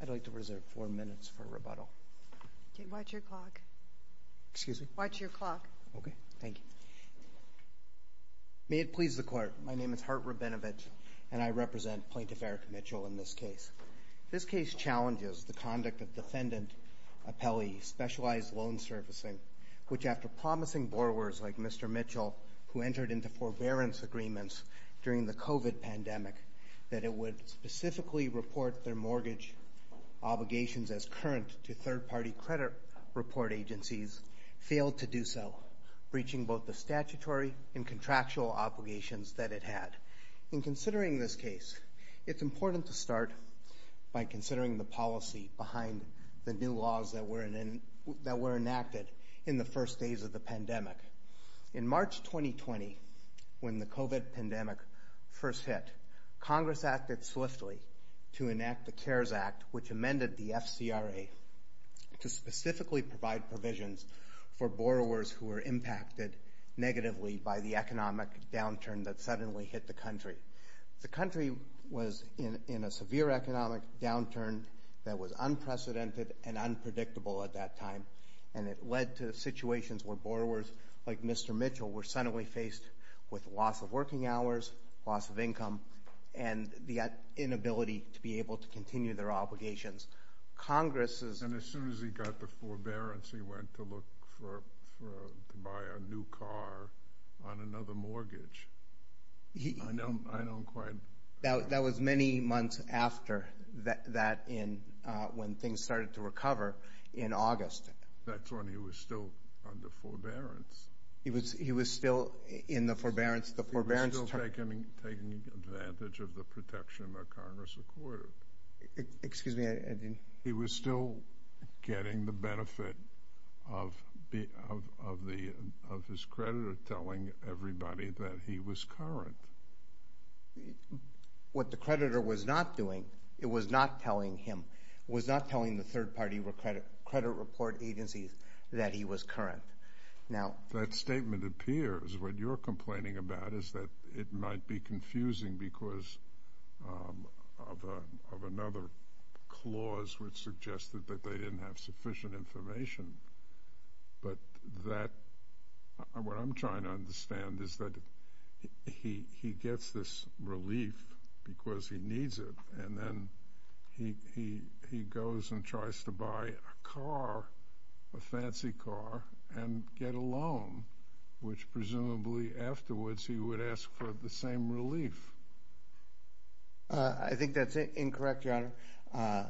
I'd like to reserve four minutes for rebuttal. Okay, watch your clock. Excuse me? Watch your clock. Okay, thank you. May it please the court, my name is Hart Rabinovitch and I represent Plaintiff Erica Mitchell in this case. This case challenges the conduct of Defendant Appellee Specialized Loan Servicing, which after promising borrowers like Mr. Mitchell, who entered into forbearance agreements during the COVID pandemic, that it would specifically report their mortgage obligations as current to third-party credit report agencies, failed to do so, breaching both the statutory and contractual obligations that it had. In considering this case, it's important to start by considering the policy behind the new laws that were enacted in the first days of the pandemic. In March 2020, when the COVID pandemic first hit, Congress acted swiftly to enact the CARES Act, which amended the FCRA to specifically provide provisions for borrowers who were impacted negatively by the economic downturn that suddenly hit the country. The country was in a severe economic downturn that was unprecedented and unpredictable at that time, and it led to situations where borrowers like Mr. Mitchell were suddenly faced with loss of working hours, loss of income, and the inability to be able to continue their obligations. And as soon as he got to forbearance, he went to look to buy a new car on another mortgage. That was many months after that, when things started to recover in August. That's when he was still under forbearance. He was still in the forbearance term. He was still taking advantage of the protection that Congress accorded. Excuse me. He was still getting the benefit of his creditor telling everybody that he was current. What the creditor was not doing, it was not telling him, it was not telling the third-party credit report agencies that he was current. That statement appears. What you're complaining about is that it might be confusing because of another clause which suggested that they didn't have sufficient information. But what I'm trying to understand is that he gets this relief because he needs it, and then he goes and tries to buy a car, a fancy car, and get a loan, which presumably afterwards he would ask for the same relief. I think that's incorrect, Your Honor.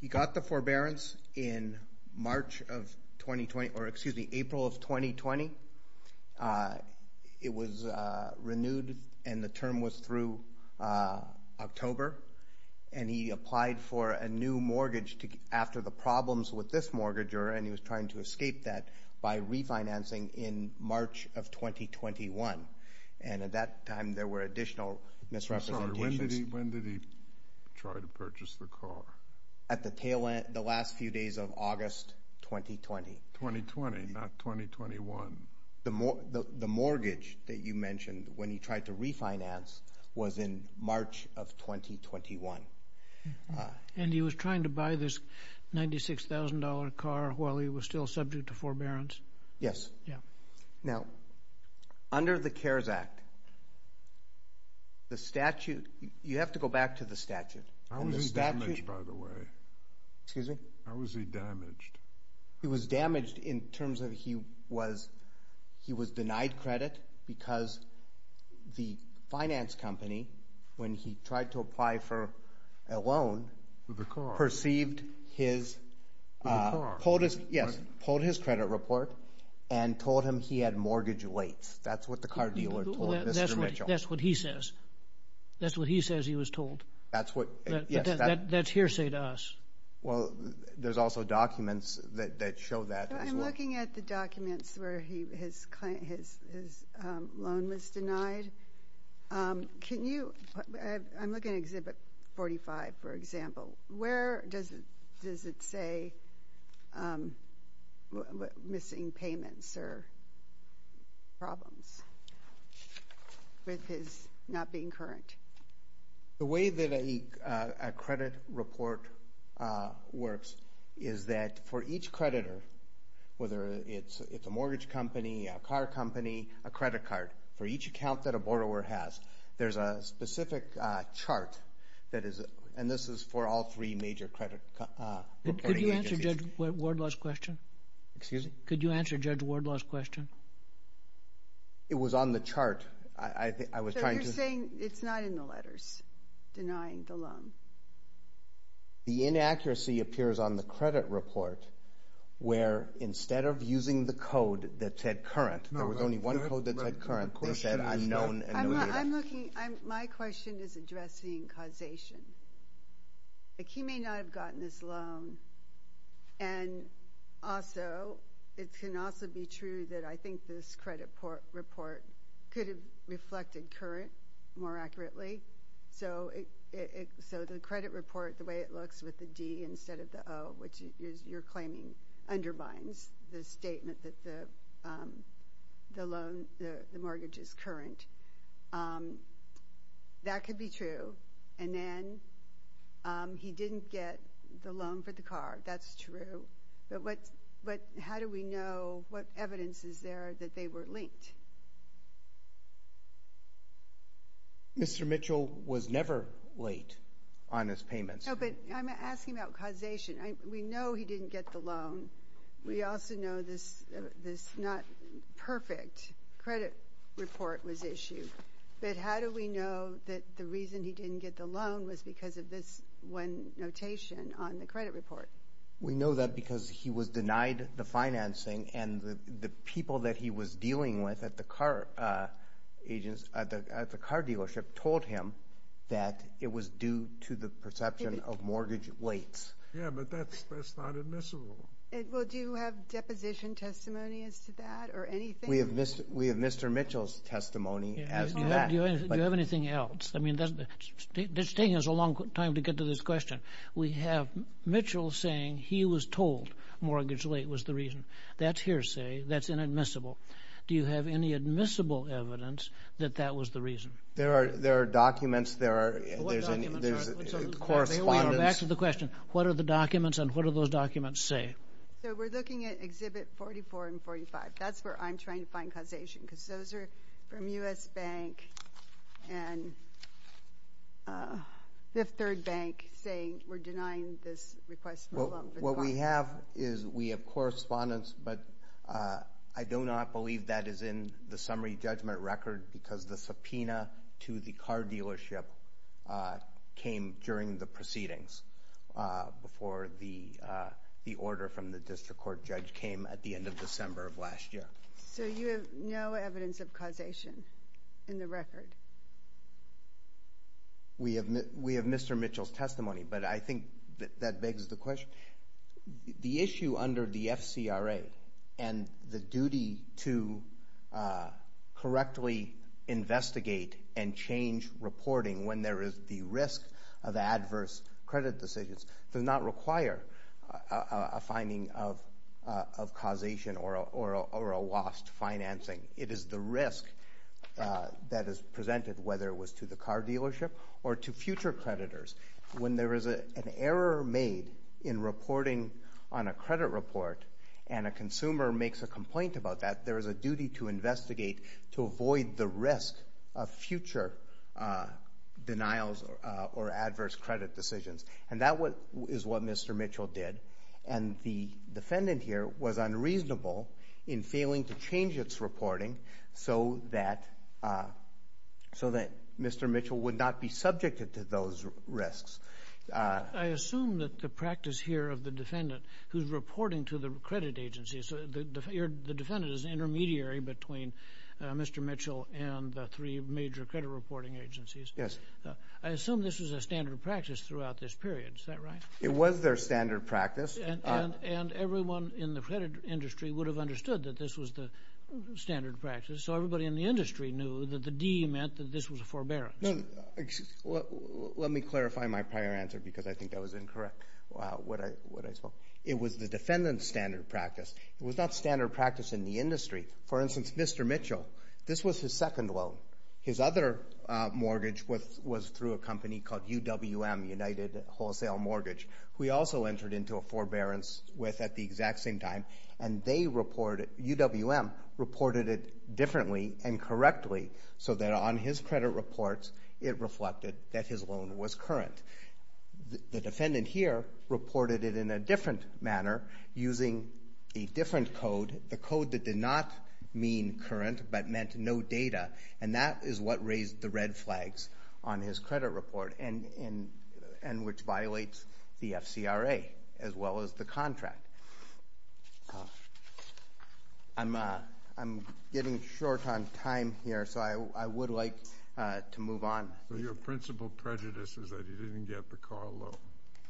He got the forbearance in March of 2020, or excuse me, April of 2020. It was renewed, and the term was through October, and he applied for a new mortgage after the problems with this mortgager, and he was trying to escape that by refinancing in March of 2021. At that time, there were additional misrepresentations. I'm sorry. When did he try to purchase the car? At the last few days of August 2020. 2020, not 2021. The mortgage that you mentioned when he tried to refinance was in March of 2021. And he was trying to buy this $96,000 car while he was still subject to forbearance? Yes. Now, under the CARES Act, you have to go back to the statute. How was he damaged, by the way? Excuse me? How was he damaged? He was damaged in terms of he was denied credit because the finance company, when he tried to apply for a loan, perceived his— With the car. Yes, pulled his credit report and told him he had mortgage late. That's what the car dealer told Mr. Mitchell. That's what he says. That's what he says he was told. That's what— That's hearsay to us. Well, there's also documents that show that as well. I'm looking at the documents where his loan was denied. Can you—I'm looking at Exhibit 45, for example. Where does it say missing payments or problems with his not being current? The way that a credit report works is that for each creditor, whether it's a mortgage company, a car company, a credit card, for each account that a borrower has, there's a specific chart that is— and this is for all three major credit reporting agencies. Could you answer Judge Wardlaw's question? Excuse me? Could you answer Judge Wardlaw's question? It was on the chart. I was trying to— It's not in the letters denying the loan. The inaccuracy appears on the credit report where, instead of using the code that said current, there was only one code that said current, they said unknown— I'm looking—my question is addressing causation. He may not have gotten his loan, and also it can also be true that I think this credit report could have reflected current more accurately. So the credit report, the way it looks with the D instead of the O, which you're claiming underbinds the statement that the mortgage is current. That could be true. And then he didn't get the loan for the car. That's true. But how do we know what evidence is there that they were linked? Mr. Mitchell was never late on his payments. No, but I'm asking about causation. We know he didn't get the loan. We also know this not perfect credit report was issued. But how do we know that the reason he didn't get the loan was because of this one notation on the credit report? We know that because he was denied the financing, and the people that he was dealing with at the car dealership told him that it was due to the perception of mortgage weights. Yeah, but that's not admissible. Well, do you have deposition testimony as to that or anything? We have Mr. Mitchell's testimony as to that. Do you have anything else? I mean, it's taking us a long time to get to this question. We have Mitchell saying he was told mortgage weight was the reason. That's hearsay. That's inadmissible. Do you have any admissible evidence that that was the reason? There are documents. There's correspondence. Back to the question. What are the documents, and what do those documents say? We're looking at Exhibit 44 and 45. That's where I'm trying to find causation because those are from U.S. Bank and Fifth Third Bank saying we're denying this request for a loan. What we have is we have correspondence, but I do not believe that is in the summary judgment record because the subpoena to the car dealership came during the proceedings before the order from the district court judge came at the end of December of last year. So you have no evidence of causation in the record? We have Mr. Mitchell's testimony, but I think that begs the question. The issue under the FCRA and the duty to correctly investigate and change reporting when there is the risk of adverse credit decisions does not require a finding of causation or a lost financing. It is the risk that is presented, whether it was to the car dealership or to future creditors. When there is an error made in reporting on a credit report and a consumer makes a complaint about that, there is a duty to investigate to avoid the risk of future denials or adverse credit decisions. And that is what Mr. Mitchell did. And the defendant here was unreasonable in failing to change its reporting so that Mr. Mitchell would not be subjected to those risks. I assume that the practice here of the defendant who is reporting to the credit agencies, the defendant is an intermediary between Mr. Mitchell and the three major credit reporting agencies. Yes. I assume this was a standard practice throughout this period. Is that right? It was their standard practice. And everyone in the credit industry would have understood that this was the standard practice, so everybody in the industry knew that the D meant that this was a forbearance. Let me clarify my prior answer because I think that was incorrect. It was the defendant's standard practice. It was not standard practice in the industry. For instance, Mr. Mitchell, this was his second loan. His other mortgage was through a company called UWM, United Wholesale Mortgage, who he also entered into a forbearance with at the exact same time, and UWM reported it differently and correctly so that on his credit reports it reflected that his loan was current. The defendant here reported it in a different manner using a different code, a code that did not mean current but meant no data, and that is what raised the red flags on his credit report and which violates the FCRA as well as the contract. I'm getting short on time here, so I would like to move on. Your principal prejudice is that he didn't get the car loan.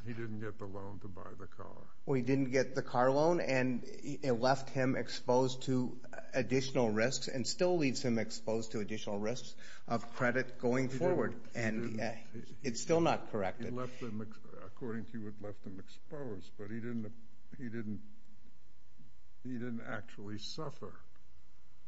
He didn't get the loan to buy the car. Well, he didn't get the car loan, and it left him exposed to additional risks and still leaves him exposed to additional risks of credit going forward, and it's still not corrected. According to you, it left him exposed, but he didn't actually suffer.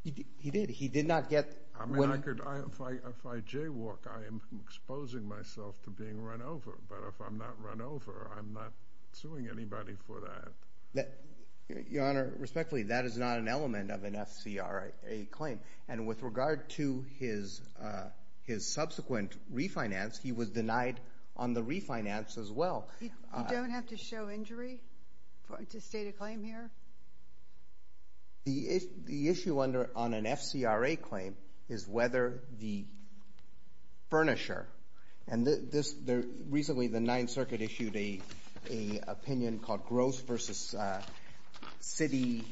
He did. He did not get the loan. If I jaywalk, I am exposing myself to being run over, but if I'm not run over, I'm not suing anybody for that. Your Honor, respectfully, that is not an element of an FCRA claim, and with regard to his subsequent refinance, he was denied on the refinance as well. You don't have to show injury to state a claim here? The issue on an FCRA claim is whether the furnisher, and recently the Ninth Circuit issued an opinion called Gross v. City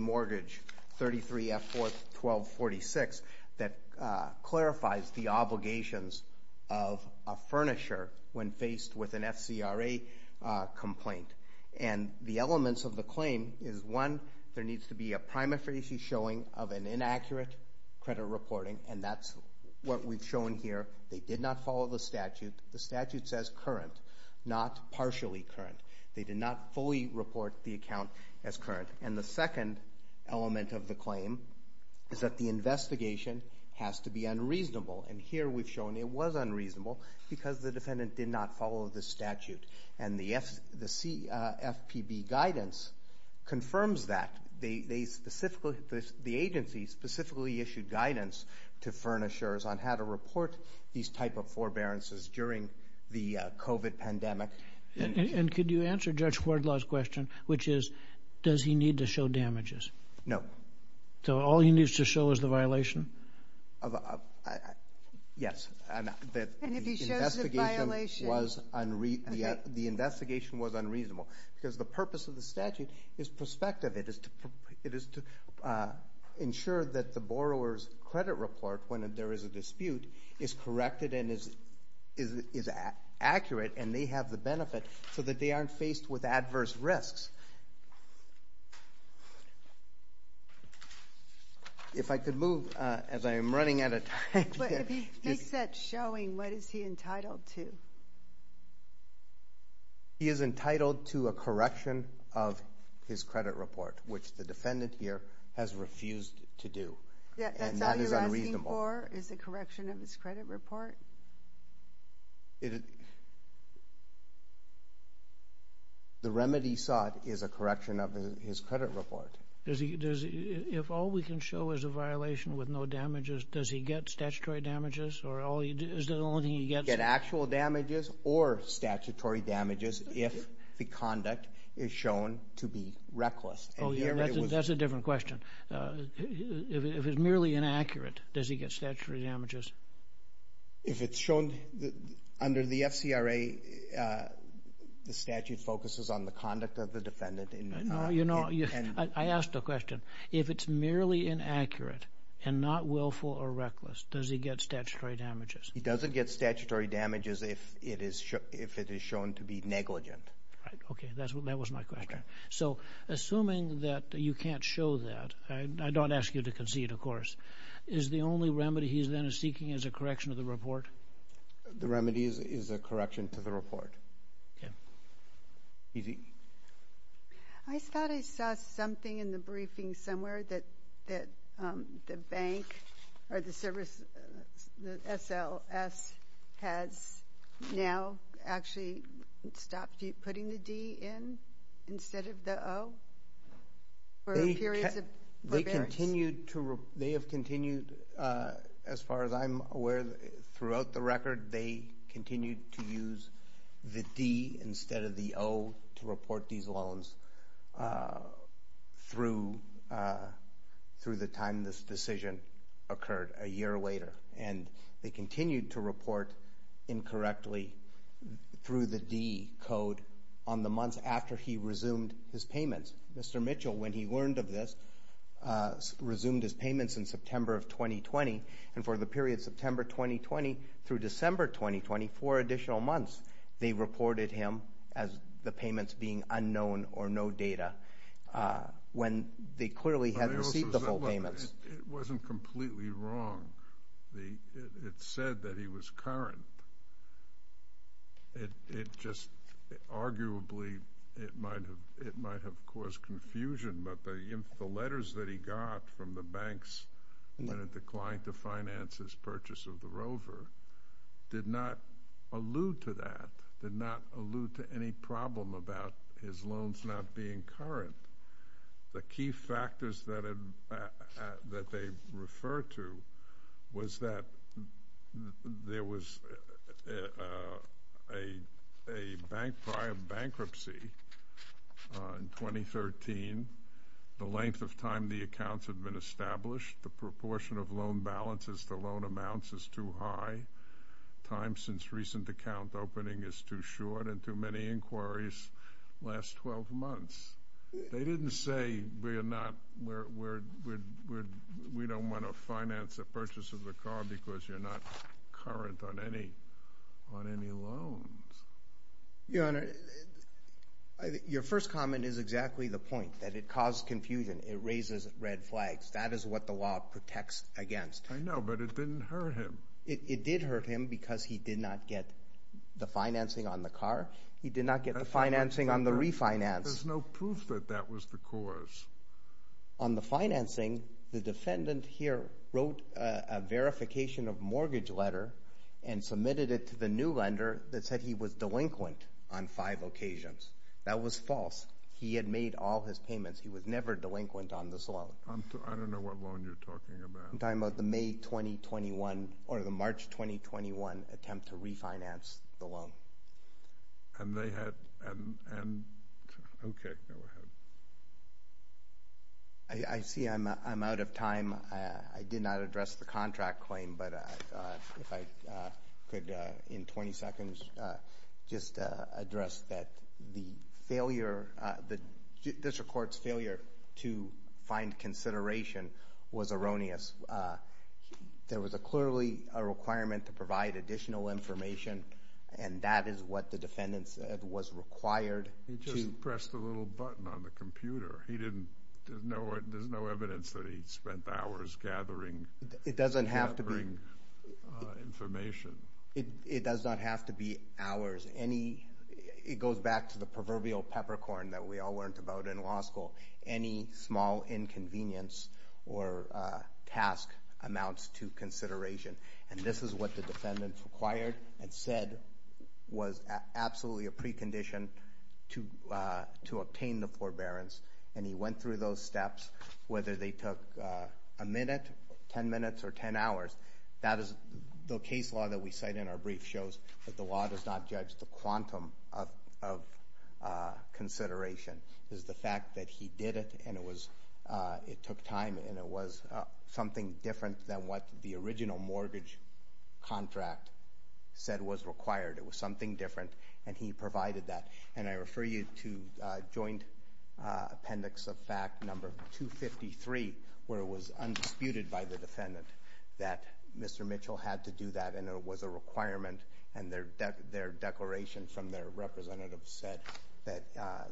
Mortgage, 33F4-1246, that clarifies the obligations of a furnisher when faced with an FCRA complaint, and the elements of the claim is, one, there needs to be a prima facie showing of an inaccurate credit reporting, and that's what we've shown here. They did not follow the statute. The statute says current, not partially current. They did not fully report the account as current, and the second element of the claim is that the investigation has to be unreasonable, and here we've shown it was unreasonable because the defendant did not follow the statute, and the FPB guidance confirms that. The agency specifically issued guidance to furnishers on how to report these type of forbearances during the COVID pandemic. And could you answer Judge Wardlaw's question, which is, does he need to show damages? No. So all he needs to show is the violation? Yes. And if he shows the violation? The investigation was unreasonable because the purpose of the statute is prospective. It is to ensure that the borrower's credit report, when there is a dispute, is corrected and is accurate, and they have the benefit, so that they aren't faced with adverse risks. If I could move as I am running out of time. He said showing. What is he entitled to? He is entitled to a correction of his credit report, which the defendant here has refused to do, and that is unreasonable. That's all you're asking for is a correction of his credit report? The remedy sought is a correction of his credit report. If all we can show is a violation with no damages, does he get statutory damages? Is that the only thing he gets? He doesn't get actual damages or statutory damages if the conduct is shown to be reckless. That's a different question. If it's merely inaccurate, does he get statutory damages? If it's shown under the FCRA, the statute focuses on the conduct of the defendant. I asked a question. If it's merely inaccurate and not willful or reckless, does he get statutory damages? He doesn't get statutory damages if it is shown to be negligent. That was my question. Assuming that you can't show that, I don't ask you to concede, of course, is the only remedy he is then seeking is a correction of the report? The remedy is a correction to the report. Easy. I thought I saw something in the briefing somewhere that the bank or the service, the SLS has now actually stopped putting the D in instead of the O for periods of forbearance. They have continued, as far as I'm aware, throughout the record, they continued to use the D instead of the O to report these loans through the time this decision occurred a year later. And they continued to report incorrectly through the D code on the months after he resumed his payments. Mr. Mitchell, when he learned of this, resumed his payments in September of 2020, and for the period September 2020 through December 2020, four additional months, they reported him as the payments being unknown or no data when they clearly hadn't received the full payments. It wasn't completely wrong. It said that he was current. It just arguably, it might have caused confusion, but the letters that he got from the banks when it declined to finance his purchase of the Rover did not allude to that, did not allude to any problem about his loans not being current. The key factors that they referred to was that there was a bank prior bankruptcy in 2013. The length of time the accounts had been established, the proportion of loan balances to loan amounts is too high, time since recent account opening is too short, and too many inquiries last 12 months. They didn't say we don't want to finance a purchase of the car because you're not current on any loans. Your Honor, your first comment is exactly the point, that it caused confusion. It raises red flags. That is what the law protects against. I know, but it didn't hurt him. It did hurt him because he did not get the financing on the car. He did not get the financing on the refinance. There's no proof that that was the cause. On the financing, the defendant here wrote a verification of mortgage letter and submitted it to the new lender that said he was delinquent on five occasions. That was false. He had made all his payments. He was never delinquent on this loan. I don't know what loan you're talking about. I'm talking about the May 2021 or the March 2021 attempt to refinance the loan. Okay, go ahead. I see I'm out of time. I did not address the contract claim, but if I could, in 20 seconds, just address that the failure, the district court's failure to find consideration was erroneous. There was clearly a requirement to provide additional information, and that is what the defendant said was required. He just pressed a little button on the computer. There's no evidence that he spent hours gathering information. It does not have to be hours. It goes back to the proverbial peppercorn that we all learned about in law school. Any small inconvenience or task amounts to consideration, and this is what the defendant required and said was absolutely a precondition to obtain the forbearance, and he went through those steps, whether they took a minute, 10 minutes, or 10 hours. The case law that we cite in our brief shows that the law does not judge the quantum of consideration. It's the fact that he did it, and it took time, and it was something different than what the original mortgage contract said was required. It was something different, and he provided that, and I refer you to joint appendix of fact number 253, where it was undisputed by the defendant that Mr. Mitchell had to do that, and it was a requirement, and their declaration from their representative said that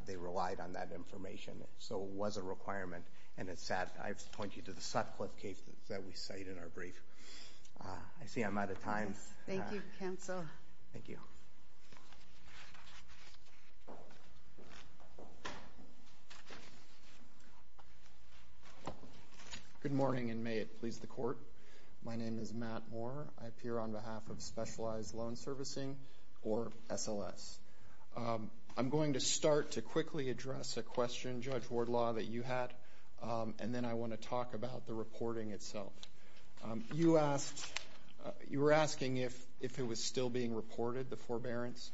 they relied on that information. So it was a requirement, and I point you to the Sutcliffe case that we cite in our brief. I see I'm out of time. Thank you, counsel. Thank you. Good morning, and may it please the Court. My name is Matt Moore. I appear on behalf of Specialized Loan Servicing, or SLS. I'm going to start to quickly address a question, Judge Wardlaw, that you had, and then I want to talk about the reporting itself. You were asking if it was still being reported, the forbearance.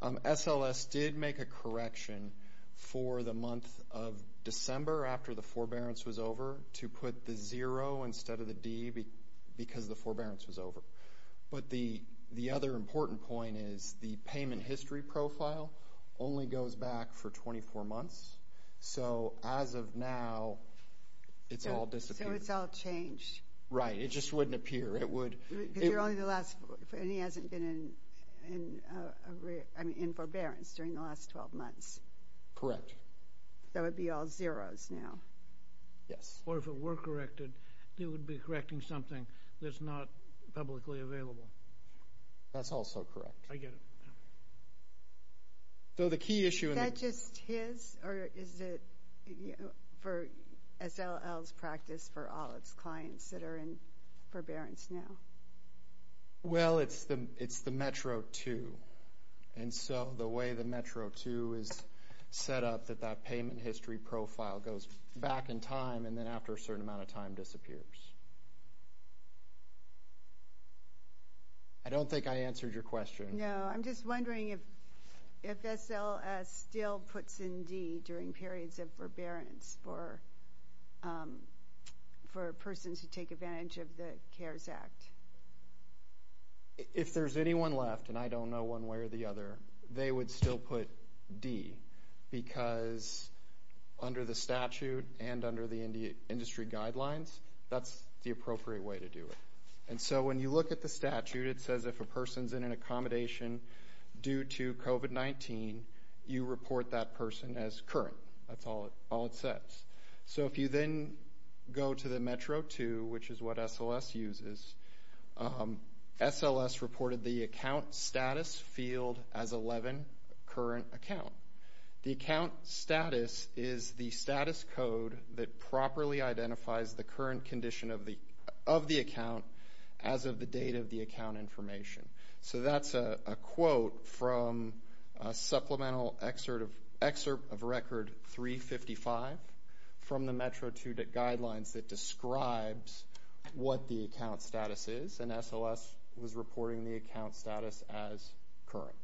SLS did make a correction for the month of December after the forbearance was over to put the zero instead of the D because the forbearance was over. But the other important point is the payment history profile only goes back for 24 months. So as of now, it's all disappeared. So it's all changed. Right. It just wouldn't appear. And he hasn't been in forbearance during the last 12 months. Correct. So it would be all zeros now. Yes. Or if it were corrected, it would be correcting something that's not publicly available. That's also correct. I get it. So the key issue in this is... Well, it's the Metro 2. And so the way the Metro 2 is set up, that that payment history profile goes back in time and then after a certain amount of time disappears. I don't think I answered your question. No. I'm just wondering if SLS still puts in D during periods of forbearance for persons who take advantage of the CARES Act. If there's anyone left, and I don't know one way or the other, they would still put D because under the statute and under the industry guidelines, that's the appropriate way to do it. And so when you look at the statute, it says if a person's in an accommodation due to COVID-19, you report that person as current. That's all it says. So if you then go to the Metro 2, which is what SLS uses, SLS reported the account status field as 11, current account. The account status is the status code that properly identifies the current condition of the account as of the date of the account information. So that's a quote from a supplemental excerpt of record 355 from the Metro 2 guidelines that describes what the account status is, and SLS was reporting the account status as current.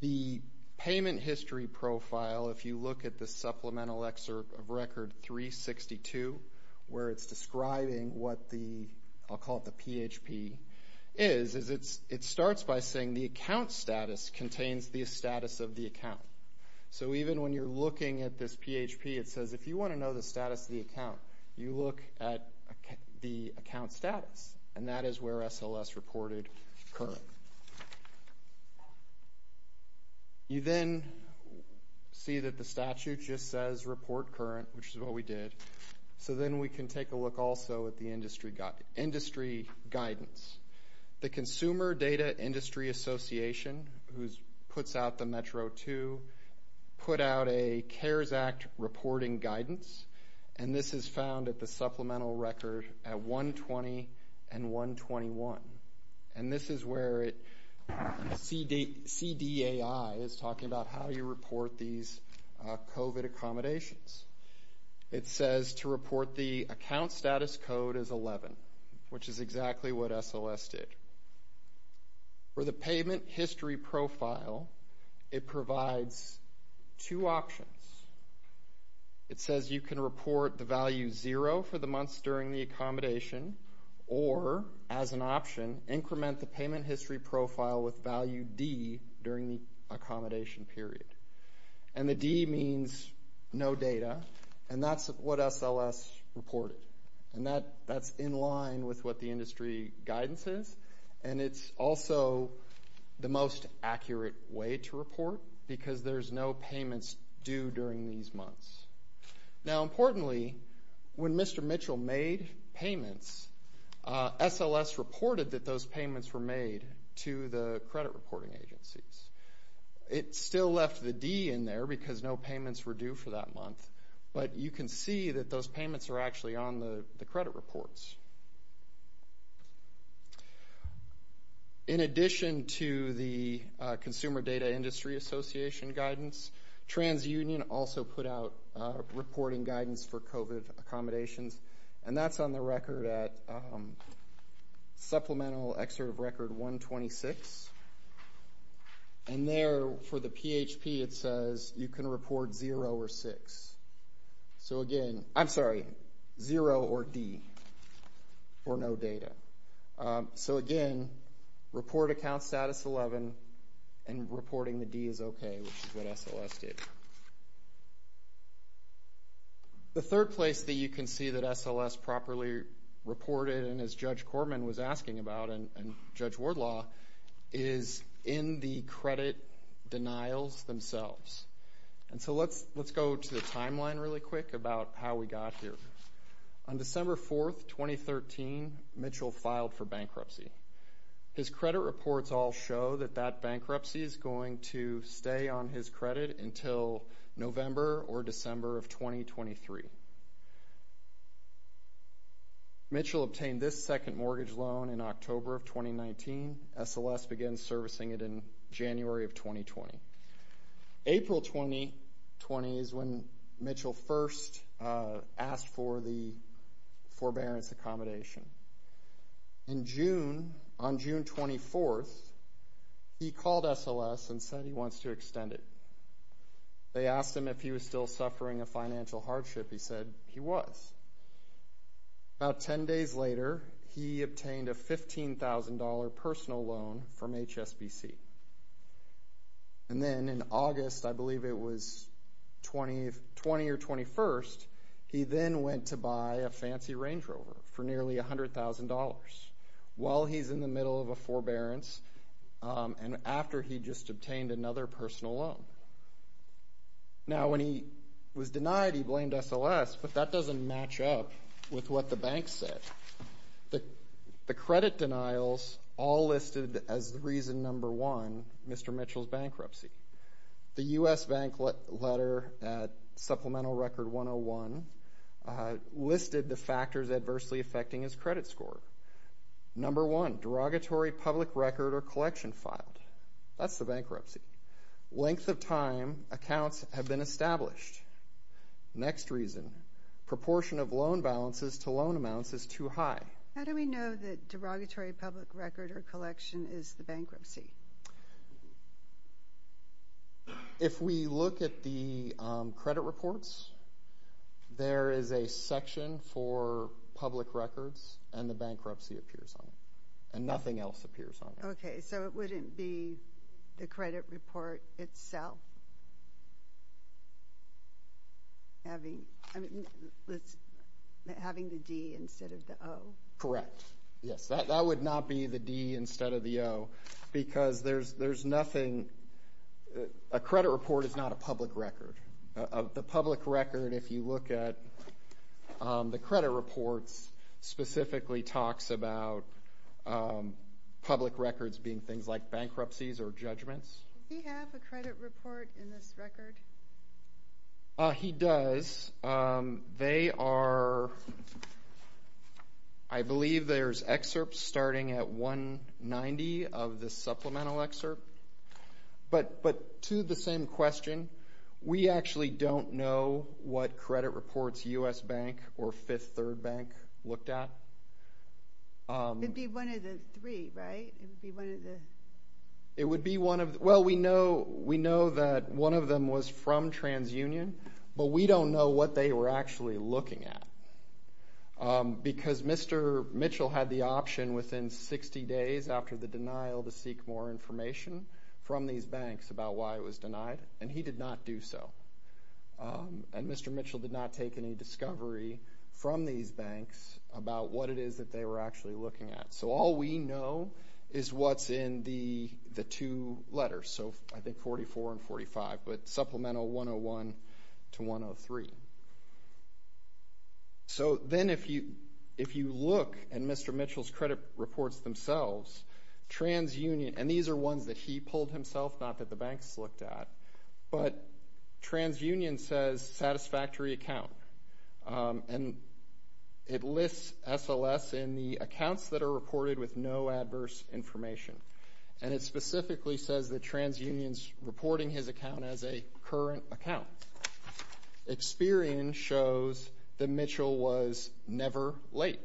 The payment history profile, if you look at the supplemental excerpt of record 362, where it's describing what the, I'll call it the PHP, is, is it starts by saying the account status contains the status of the account. So even when you're looking at this PHP, it says if you want to know the status of the account, you look at the account status, and that is where SLS reported current. You then see that the statute just says report current, which is what we did. So then we can take a look also at the industry guidance. The Consumer Data Industry Association, who puts out the Metro 2, put out a CARES Act reporting guidance, and this is found at the supplemental record at 120 and 121, and this is where CDAI is talking about how you report these COVID accommodations. It says to report the account status code as 11, which is exactly what SLS did. For the payment history profile, it provides two options. It says you can report the value zero for the months during the accommodation, or as an option, increment the payment history profile with value D during the accommodation period, and the D means no data, and that's what SLS reported, and that's in line with what the industry guidance is, and it's also the most accurate way to report because there's no payments due during these months. Now, importantly, when Mr. Mitchell made payments, SLS reported that those payments were made to the credit reporting agencies. It still left the D in there because no payments were due for that month, but you can see that those payments are actually on the credit reports. In addition to the Consumer Data Industry Association guidance, TransUnion also put out reporting guidance for COVID accommodations, and that's on the record at Supplemental Excerpt of Record 126, and there for the PHP, it says you can report zero or six. So again, I'm sorry, zero or D for no data. So again, report account status 11 and reporting the D is okay, which is what SLS did. The third place that you can see that SLS properly reported, and as Judge Corman was asking about and Judge Wardlaw, is in the credit denials themselves, and so let's go to the timeline really quick about how we got here. On December 4, 2013, Mitchell filed for bankruptcy. His credit reports all show that that bankruptcy is going to stay on his credit until November or December of 2023. Mitchell obtained this second mortgage loan in October of 2019. SLS began servicing it in January of 2020. April 2020 is when Mitchell first asked for the forbearance accommodation. In June, on June 24, he called SLS and said he wants to extend it. They asked him if he was still suffering a financial hardship. He said he was. About 10 days later, he obtained a $15,000 personal loan from HSBC, and then in August, I believe it was 20 or 21st, he then went to buy a fancy Range Rover for nearly $100,000 while he's in the middle of a forbearance and after he just obtained another personal loan. Now, when he was denied, he blamed SLS, but that doesn't match up with what the bank said. The credit denials all listed as reason number one, Mr. Mitchell's bankruptcy. The U.S. Bank letter supplemental record 101 listed the factors adversely affecting his credit score. Number one, derogatory public record or collection filed. That's the bankruptcy. Length of time accounts have been established. Next reason, proportion of loan balances to loan amounts is too high. How do we know that derogatory public record or collection is the bankruptcy? If we look at the credit reports, there is a section for public records and the bankruptcy appears on it and nothing else appears on it. Okay, so it wouldn't be the credit report itself having the D instead of the O? Correct. Yes, that would not be the D instead of the O because there's nothing. A credit report is not a public record. The public record, if you look at the credit reports, specifically talks about public records being things like bankruptcies or judgments. Does he have a credit report in this record? He does. I believe there's excerpts starting at 190 of the supplemental excerpt. But to the same question, we actually don't know what credit reports U.S. Bank or Fifth Third Bank looked at. It would be one of the three, right? Well, we know that one of them was from TransUnion, but we don't know what they were actually looking at because Mr. Mitchell had the option within 60 days after the denial to seek more information from these banks about why it was denied, and he did not do so. And Mr. Mitchell did not take any discovery from these banks about what it is that they were actually looking at. So all we know is what's in the two letters, so I think 44 and 45, but supplemental 101 to 103. So then if you look in Mr. Mitchell's credit reports themselves, TransUnion, and these are ones that he pulled himself, not that the banks looked at, but TransUnion says satisfactory account, and it lists SLS in the accounts that are reported with no adverse information. And it specifically says that TransUnion is reporting his account as a current account. Experian shows that Mitchell was never late,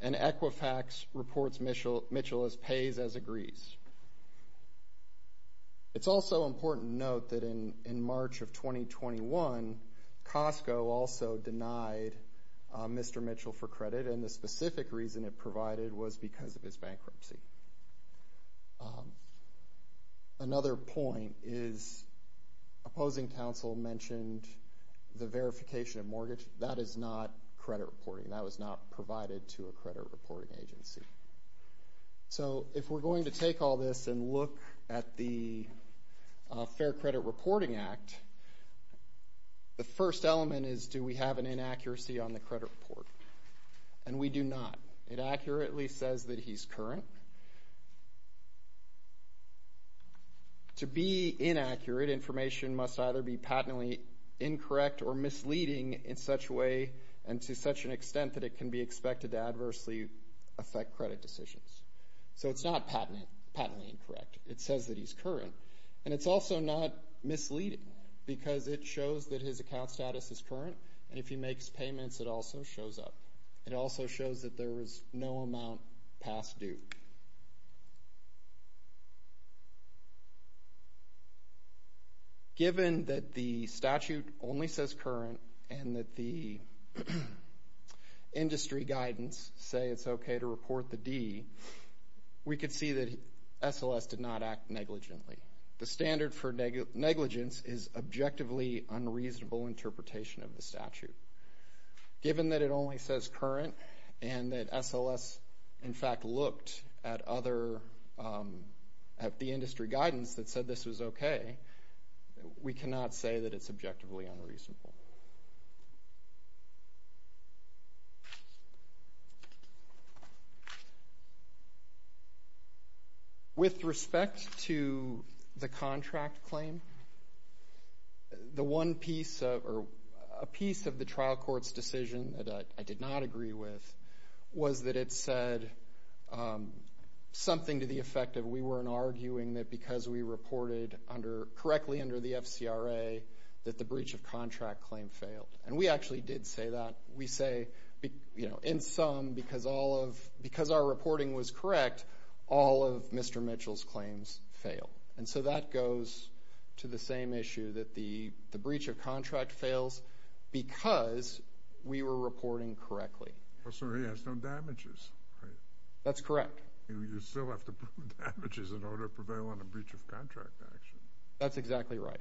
and Equifax reports Mitchell as pays as agrees. It's also important to note that in March of 2021, Costco also denied Mr. Mitchell for credit, and the specific reason it provided was because of his bankruptcy. Another point is opposing counsel mentioned the verification of mortgage. That is not credit reporting. That was not provided to a credit reporting agency. So if we're going to take all this and look at the Fair Credit Reporting Act, the first element is do we have an inaccuracy on the credit report, and we do not. It accurately says that he's current. To be inaccurate, information must either be patently incorrect or misleading in such a way and to such an extent that it can be expected to adversely affect credit decisions. So it's not patently incorrect. It says that he's current, and it's also not misleading because it shows that his account status is current, and if he makes payments, it also shows up. It also shows that there was no amount passed due. Given that the statute only says current and that the industry guidance say it's okay to report the D, we could see that SLS did not act negligently. The standard for negligence is objectively unreasonable interpretation of the statute. Given that it only says current and that SLS, in fact, looked at the industry guidance that said this was okay, we cannot say that it's objectively unreasonable. With respect to the contract claim, a piece of the trial court's decision that I did not agree with was that it said something to the effect that we weren't arguing that because we reported correctly under the FCRA that the breach of contract claim failed, and we actually did say that. We say in sum because our reporting was correct, all of Mr. Mitchell's claims failed, and so that goes to the same issue that the breach of contract fails because we were reporting correctly. So he has no damages, right? That's correct. You still have to prove damages in order to prevail on a breach of contract action. That's exactly right.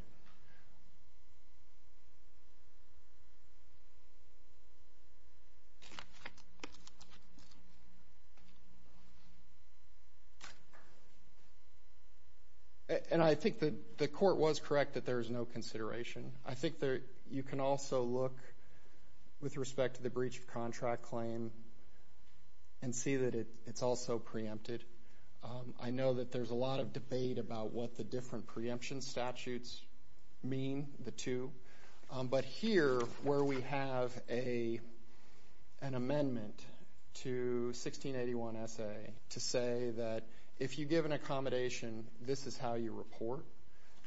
And I think that the court was correct that there is no consideration. I think that you can also look with respect to the breach of contract claim and see that it's also preempted. I know that there's a lot of debate about what the different preemption statutes mean, the two, but here where we have an amendment to 1681SA to say that if you give an accommodation, this is how you report,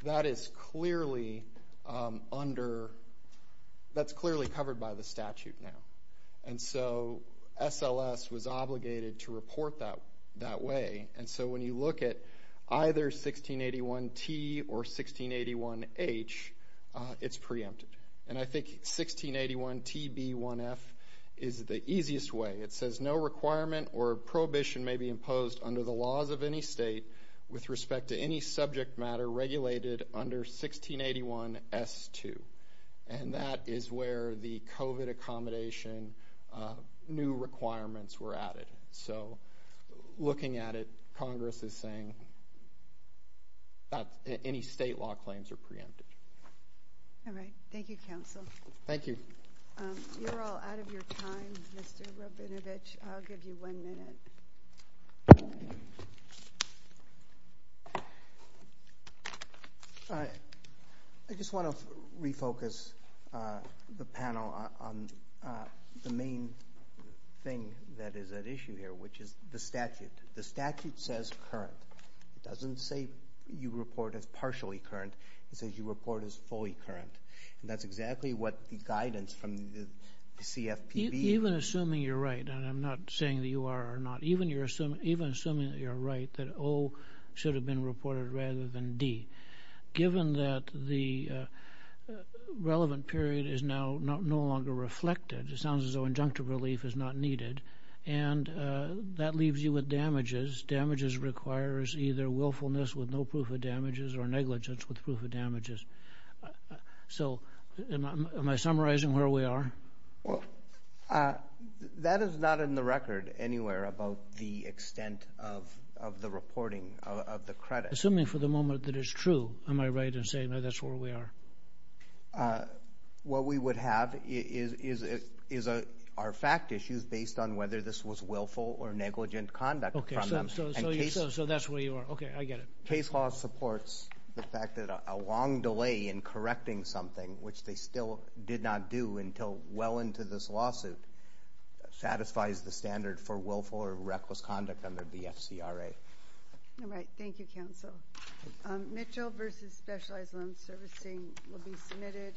that is clearly under, that's clearly covered by the statute now. And so SLS was obligated to report that way, and so when you look at either 1681T or 1681H, it's preempted. And I think 1681TB1F is the easiest way. It says no requirement or prohibition may be imposed under the laws of any state with respect to any subject matter regulated under 1681S2, and that is where the COVID accommodation new requirements were added. So looking at it, Congress is saying that any state law claims are preempted. All right. Thank you, counsel. Thank you. You're all out of your time, Mr. Rabinovich. I'll give you one minute. All right. I just want to refocus the panel on the main thing that is at issue here, which is the statute. The statute says current. It doesn't say you report as partially current. It says you report as fully current, and that's exactly what the guidance from the CFPB. Even assuming you're right, and I'm not saying that you are or not, even assuming that you're right, that O should have been reported rather than D. Given that the relevant period is now no longer reflected, it sounds as though injunctive relief is not needed, and that leaves you with damages. Damages requires either willfulness with no proof of damages or negligence with proof of damages. So am I summarizing where we are? Well, that is not in the record anywhere about the extent of the reporting of the credit. Assuming for the moment that it's true, am I right in saying that that's where we are? What we would have is our fact issues based on whether this was willful or negligent conduct. Okay, so that's where you are. Okay, I get it. Case law supports the fact that a long delay in correcting something, which they still did not do until well into this lawsuit, satisfies the standard for willful or reckless conduct under the FCRA. All right, thank you, Counsel. Mitchell v. Specialized Loan Servicing will be submitted.